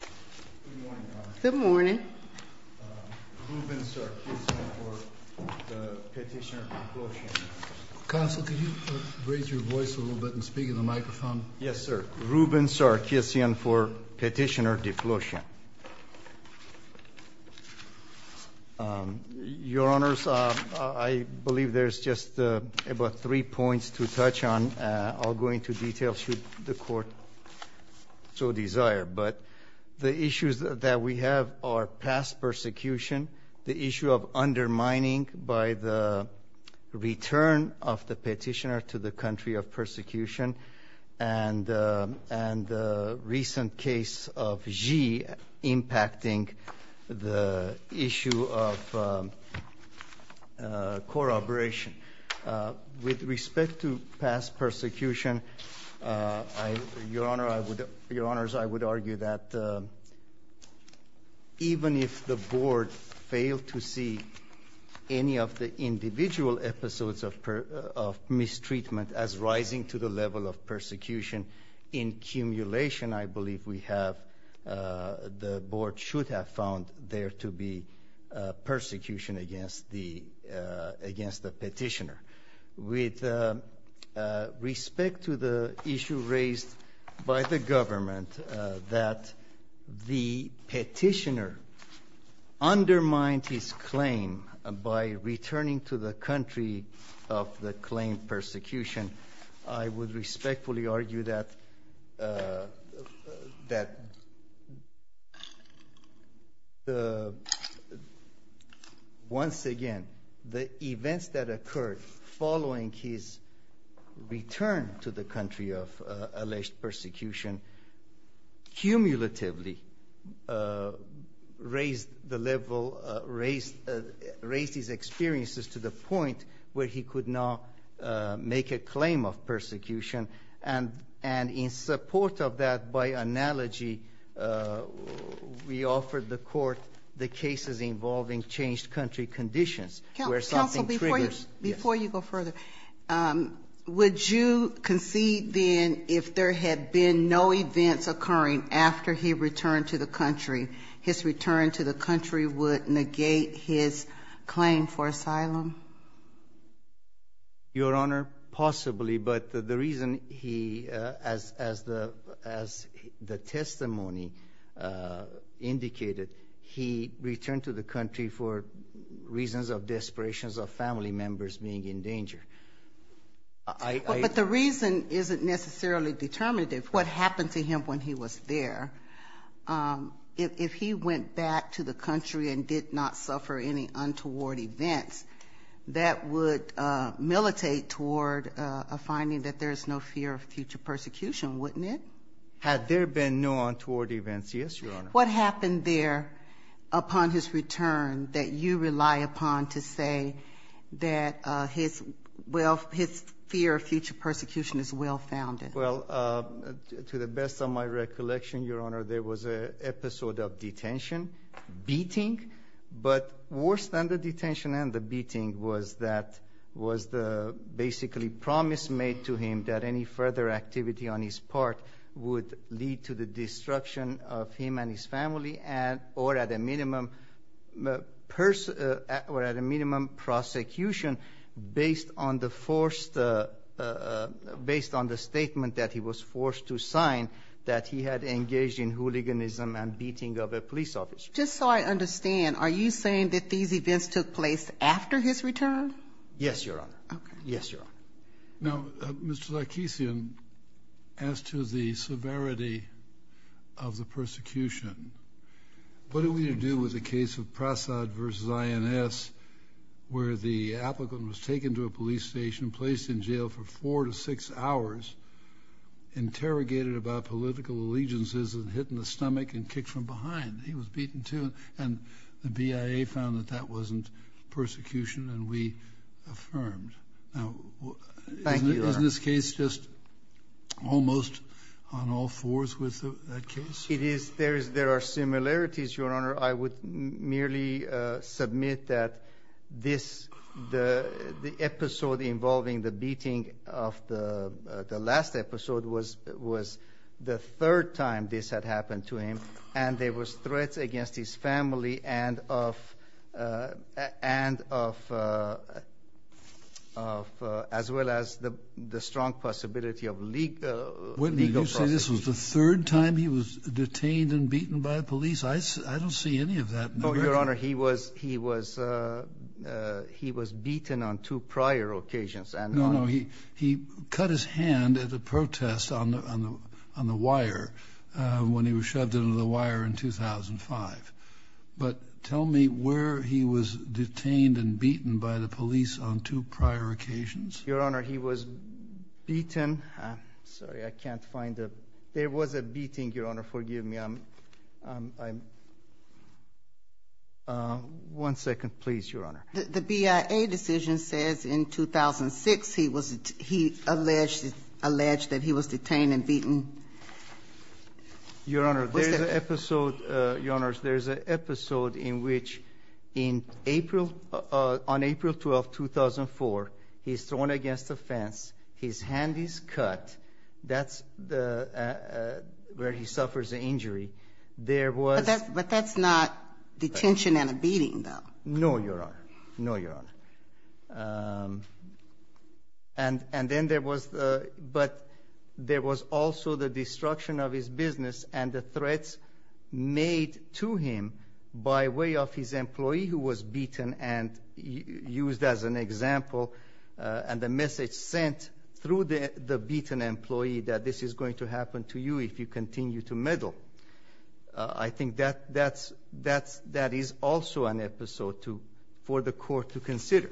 Good morning, Your Honor. Good morning. Ruben Sarkissian for Petitioner Diploshyan. Counsel, could you raise your voice a little bit and speak into the microphone? Yes, sir. Ruben Sarkissian for Petitioner Diploshyan. Your Honors, I believe there's just about three points to touch on. I'll go into detail should the Court so desire. But the issues that we have are past persecution, the issue of undermining by the return of the petitioner to the country of persecution, and the recent case of Xi impacting the issue of corroboration. With respect to past persecution, Your Honors, I would argue that even if the Board failed to see any of the individual episodes of mistreatment as rising to the level of persecution in cumulation, I believe we have, the Board should have found there to be persecution against the petitioner. With respect to the issue raised by the government that the petitioner undermined his claim by returning to the country of the claimed persecution, I would respectfully argue that once again, the events that occurred following his return to the country of alleged raised his experiences to the point where he could not make a claim of persecution. And in support of that, by analogy, we offered the Court the cases involving changed country conditions where something triggers. Counsel, before you go further, would you concede then if there had been no events occurring after he returned to the country, his return to the country would negate his claim for asylum? Your Honor, possibly, but the reason he, as the testimony indicated, he returned to the country for reasons of desperation of family members being in danger. But the reason isn't necessarily determinative. What happened to him when he was there, if he went back to the country and did not suffer any untoward events, that would militate toward a finding that there is no fear of future persecution, wouldn't it? Had there been no untoward events, yes, Your Honor. What happened there upon his Well, to the best of my recollection, Your Honor, there was a episode of detention, beating, but worse than the detention and the beating was that, was the basically promise made to him that any further activity on his part would lead to the destruction of him and his family and or at a minimum, or at a minimum prosecution based on the statement that he was forced to sign that he had engaged in hooliganism and beating of a police officer. Just so I understand, are you saying that these events took place after his return? Yes, Your Honor. Okay. Yes, Your Honor. Now, Mr. Larkisian, as to the severity of the persecution, what do we do with the case of Prasad v. INS where the applicant was taken to a police station, placed in jail for four to six hours, interrogated about political allegiances and hit in the stomach and kicked from behind. He was beaten, too, and the BIA found that that wasn't persecution and we affirmed. Now, is this case just almost on all fours with that case? It is. There is, there are similarities, Your Honor. I would merely submit that this, the episode involving the beating of the, the last episode was, was the third time this had happened to him and there was threats against his family and of, and of, of, as well as the, the strong possibility of legal, legal prosecution. This was the third time he was detained and beaten by the police? I, I don't see any of that. No, Your Honor. He was, he was, he was beaten on two prior occasions and on... No, no. He, he cut his hand at a protest on the, on the, on the wire when he was shoved into the wire in 2005. But tell me where he was detained and beaten by the police on two prior occasions? Your Honor, he was beaten, sorry, I can't find the, there was a beating, Your Honor, forgive me. I'm, I'm, I'm, one second, please, Your Honor. The, the BIA decision says in 2006 he was, he alleged, alleged that he was detained and beaten. Your Honor, there's an episode, Your Honors, there's an episode in which in April, on April 12th, 2004, he's thrown against a fence, his hand is cut, that's the, where he suffers the injury. There was... But that's, but that's not detention and a beating, though. No, Your Honor. No, Your Honor. And, and then there was the, but there was also the destruction of his business and the threats made to him by way of his employee who was beaten and used as an example, and the message sent through the, the beaten employee that this is going to happen to you if you continue to meddle. I think that, that's, that's, that is also an episode to, for the court to consider.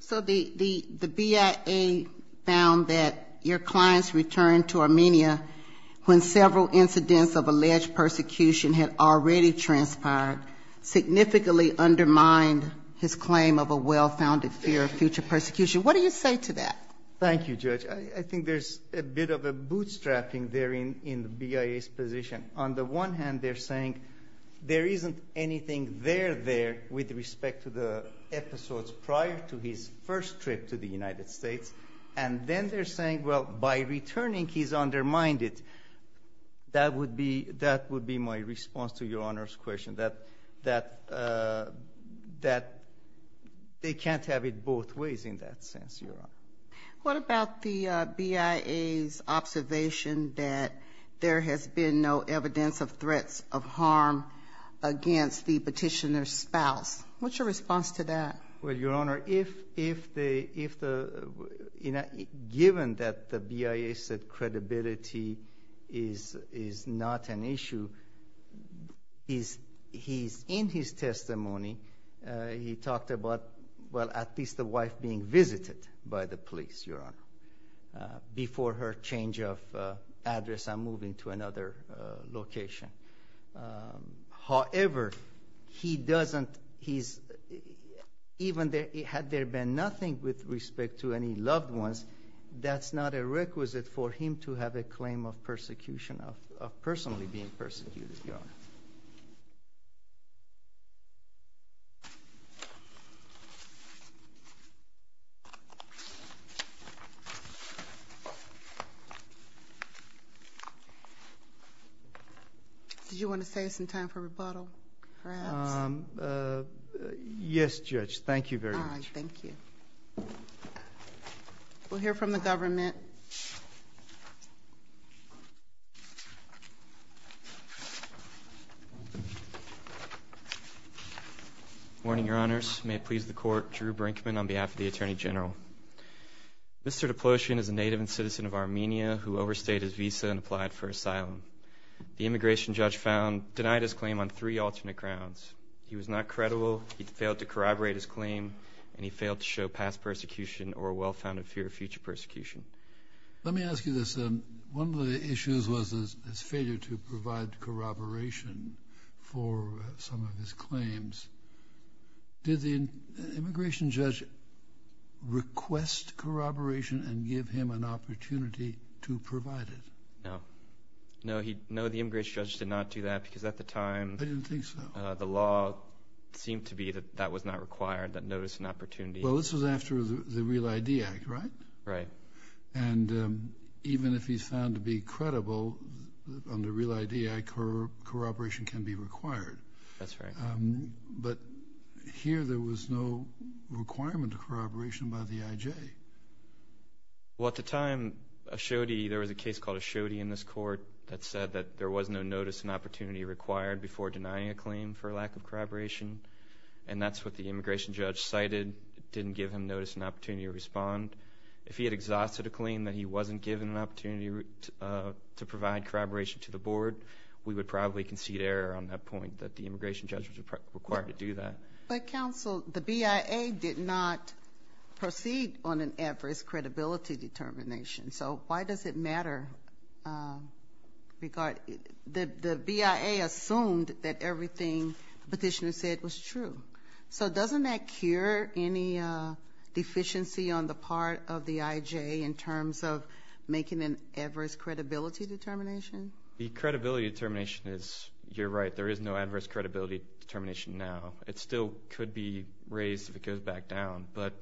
So the, the, the BIA found that your client's return to Armenia, when several incidents of alleged persecution had already transpired, significantly undermined his claim of a well-founded fear of future persecution. What do you say to that? Thank you, Judge. I, I think there's a bit of a bootstrapping there in, in the BIA's position. On the one hand, they're saying there isn't anything there there with respect to the episodes prior to his first trip to the United States, and then they're saying, well, by returning, he's undermined it. That would be, that would be my response to Your Honor's question, that, that, that they can't have it both ways in that sense, Your Honor. What about the BIA's observation that there has been no evidence of threats of harm against the petitioner's spouse? What's your response to that? Well, Your Honor, if, if they, if the, you know, given that the BIA said credibility is, is not an issue, he's, he's in his testimony. He talked about, well, at least the wife being visited by the police, Your Honor, before her change of address and moving to another location. However, he doesn't, he's, even there, had there been nothing with respect to any loved ones, that's not a requisite for him to have a claim of persecution, of, of personally being persecuted, Your Honor. Did you want to save some time for rebuttal, perhaps? Yes, Judge, thank you very much. All right, thank you. We'll hear from the government. Good morning, Your Honors. May it please the Court, Drew Brinkman on behalf of the Attorney General. Mr. Diplosian is a native and citizen of Armenia who overstayed his visa and applied for asylum. The immigration judge found, denied his claim on three alternate grounds. He was not credible, he failed to corroborate his claim, and he failed to show past persecution or a well-founded fear of future persecution. Let me ask you this. One of the issues was his failure to provide corroboration for some of his claims. Did the immigration judge request corroboration and give him an opportunity to provide it? No. No, he, no, the immigration judge did not do that because at the time, I didn't think so, the law seemed to be that that was not required, that notice and opportunity. Well, this was after the Real ID Act, right? Right. And even if he's found to be credible on the Real ID Act, corroboration can be required. That's right. But here, there was no requirement of corroboration by the IJ. Well, at the time, Ashodi, there was a case called Ashodi in this court that said that there was no notice and opportunity required before denying a claim for a lack of corroboration. And that's what the immigration judge cited, didn't give him notice and opportunity to respond. If he had exhausted a claim that he wasn't given an opportunity to provide corroboration to the board, we would probably concede error on that point that the immigration judge was required to do that. But counsel, the BIA did not proceed on an adverse credibility determination. So why does it matter? The BIA assumed that everything the petitioner said was true. So doesn't that cure any deficiency on the part of the IJ in terms of making an adverse credibility determination? The credibility determination is, you're right, there is no adverse credibility determination now. It still could be raised if it goes back down. But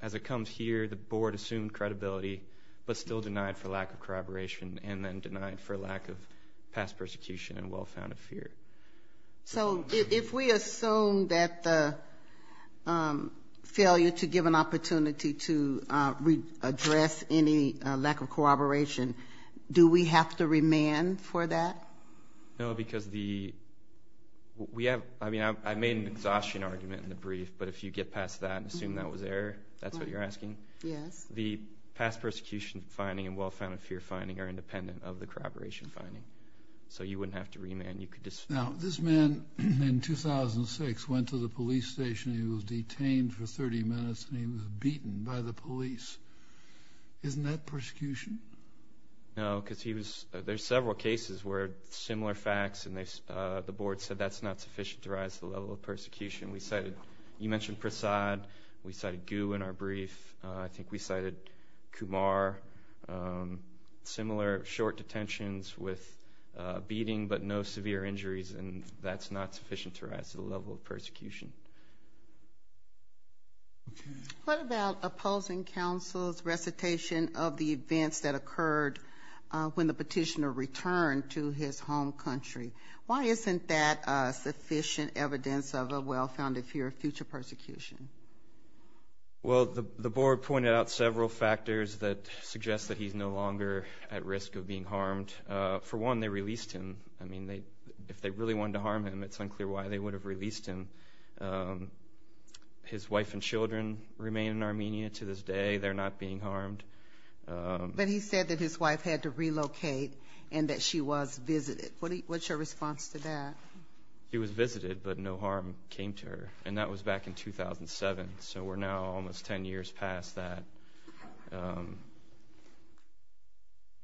as it comes here, the board assumed credibility, but still denied for lack of corroboration and then denied for lack of past persecution and well-founded fear. So if we assume that the failure to give an opportunity to address any lack of corroboration, do we have to remand for that? No, because the, we have, I mean, I made an exhaustion argument in the brief, but if you get past that and assume that was error, that's what you're asking. Yes. The past persecution finding and well-founded fear finding are independent of the corroboration finding. So you wouldn't have to remand. Now, this man in 2006 went to the police station. He was detained for 30 minutes and he was beaten by the police. Isn't that persecution? No, because he was, there's several cases where similar facts and the board said that's not sufficient to rise to the level of persecution. We cited, you mentioned Prasad. We cited Gu in our brief. I think we cited Kumar. Similar short detentions with beating, but no severe injuries, and that's not sufficient to rise to the level of persecution. What about opposing counsel's recitation of the events that occurred when the petitioner returned to his home country? Why isn't that sufficient evidence of a well-founded fear of future persecution? Well, the board pointed out several factors that suggest that he's no longer at risk of being harmed. For one, they released him. I mean, if they really wanted to harm him, it's unclear why they would have released him. His wife and children remain in Armenia to this day. They're not being harmed. But he said that his wife had to relocate and that she was visited. What's your response to that? He was visited, but no harm came to her. And that was back in 2007. So we're now almost 10 years past that.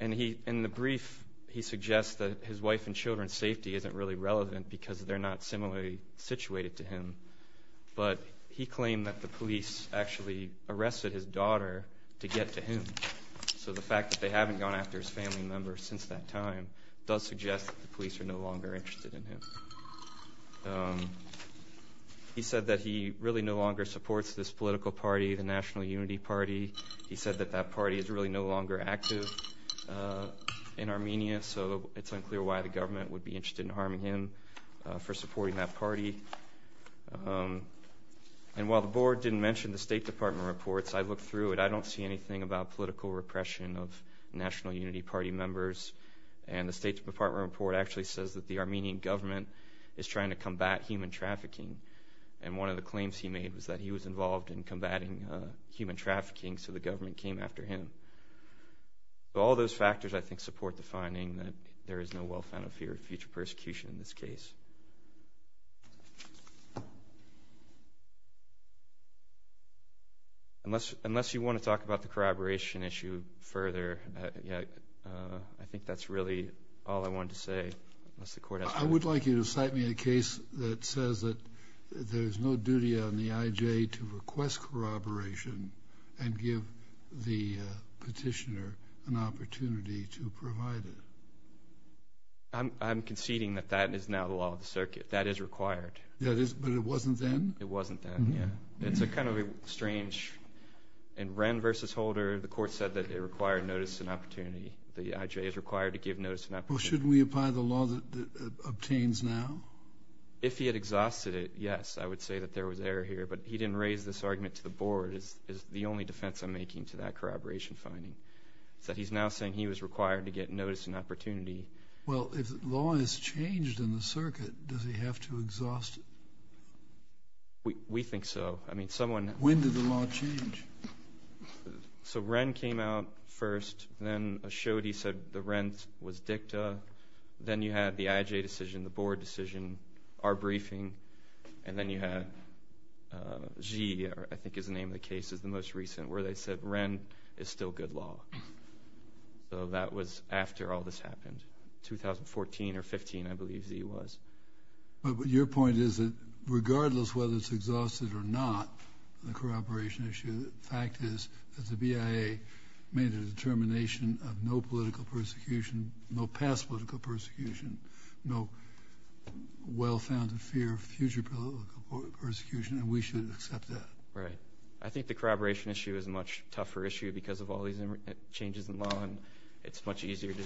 And in the brief, he suggests that his wife and children's safety isn't really relevant because they're not similarly situated to him. But he claimed that the police actually arrested his daughter to get to him. So the fact that they haven't gone after his family members since that time does suggest that the police are no longer interested in him. He said that he really no longer supports this political party, the National Unity Party. He said that that party is really no longer active in Armenia. So it's unclear why the government would be interested in harming him for supporting that party. And while the board didn't mention the State Department reports, I looked through it. I don't see anything about political repression of National Unity Party members. And the State Department report actually says that the Armenian government is trying to combat human trafficking. And one of the claims he made was that he was involved in combating human trafficking, so the government came after him. All those factors, I think, support the finding that there is no well-founded fear of future persecution in this case. Unless you want to talk about the corroboration issue further, I think that's really all I wanted to say. I would like you to cite me a case that says that there is no duty on the IJ to request corroboration and give the petitioner an opportunity to provide it. I'm conceding that that is now the law of the circuit. That is required. That is, but it wasn't then? It wasn't then, yeah. It's kind of strange. In Wren v. Holder, the court said that it required notice and opportunity. The IJ is required to give notice and opportunity. Well, shouldn't we apply the law that obtains now? If he had exhausted it, yes, I would say that there was error here. But he didn't raise this argument to the board. It's the only defense I'm making to that corroboration finding. So he's now saying he was required to get notice and opportunity. Well, if the law has changed in the circuit, does he have to exhaust it? We think so. When did the law change? So Wren came out first, then Ashode said the Wren was dicta. Then you had the IJ decision, the board decision, our briefing. And then you had Xi, I think is the name of the case, is the most recent, where they said Wren is still good law. So that was after all this happened, 2014 or 15, I believe Xi was. But your point is that regardless whether it's exhausted or not, the corroboration issue, the fact is that the BIA made a determination of no political persecution, no past political persecution, no well-founded fear of future political persecution. And we should accept that. Right. I think the corroboration issue is a much tougher issue because of all these changes in law, and it's much easier to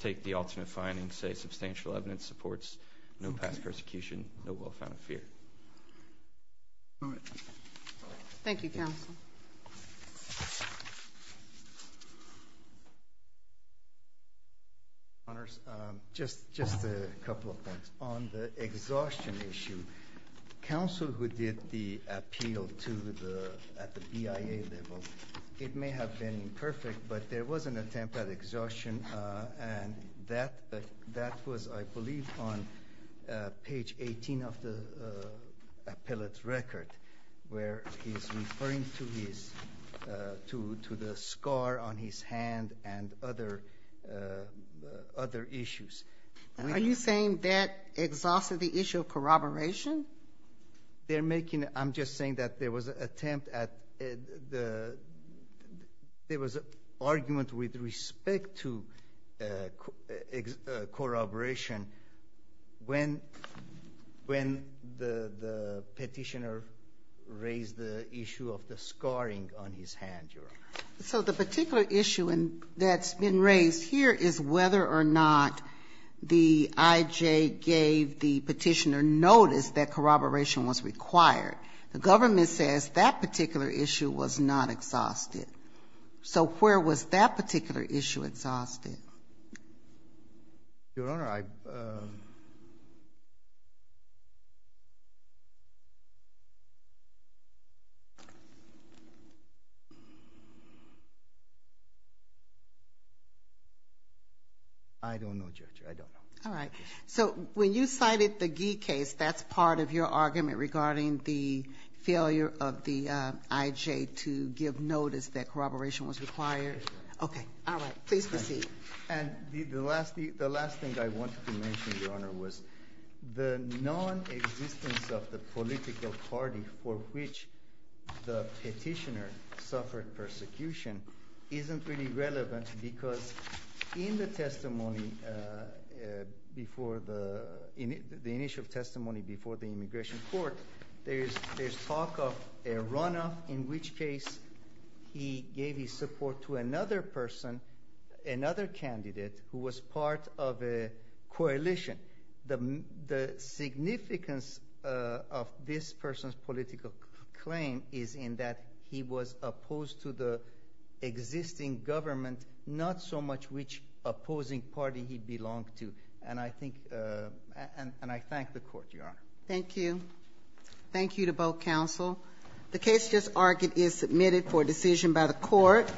take the alternate findings, say substantial evidence supports, no past persecution, no well-founded fear. Thank you, counsel. Honours, just a couple of points. On the exhaustion issue, counsel who did the appeal at the BIA level, it may have been imperfect, but there was an attempt at exhaustion. And that was, I believe, on page 18 of the appellate's record, where he's referring to the scar on his hand and other issues. Are you saying that exhausted the issue of corroboration? They're making, I'm just saying that there was an attempt at the, there was an argument with respect to corroboration when the petitioner raised the issue of the scarring on his hand, Your Honour. So the particular issue that's been raised here is whether or not the IJ gave the petitioner notice that corroboration was required. The government says that particular issue was not exhausted. So where was that particular issue exhausted? Your Honour, I, I don't know, Judge, I don't know. All right. So when you cited the Gee case, that's part of your argument regarding the failure of the IJ to give notice that corroboration was required? Okay. All right. Please proceed. And the last, the last thing I wanted to mention, Your Honour, was the non-existence of the political party for which the petitioner suffered persecution isn't really relevant because in the testimony before the, in the initial testimony before the immigration court, there is, there's talk of a runoff in which case he gave his support to another person, another candidate who was part of a coalition. The, the significance of this person's political claim is in that he was opposed to the existing government, not so much which opposing party he belonged to. And I think, and I thank the court, Your Honour. Thank you. Thank you to both counsel. The case just argued is submitted for decision by the court.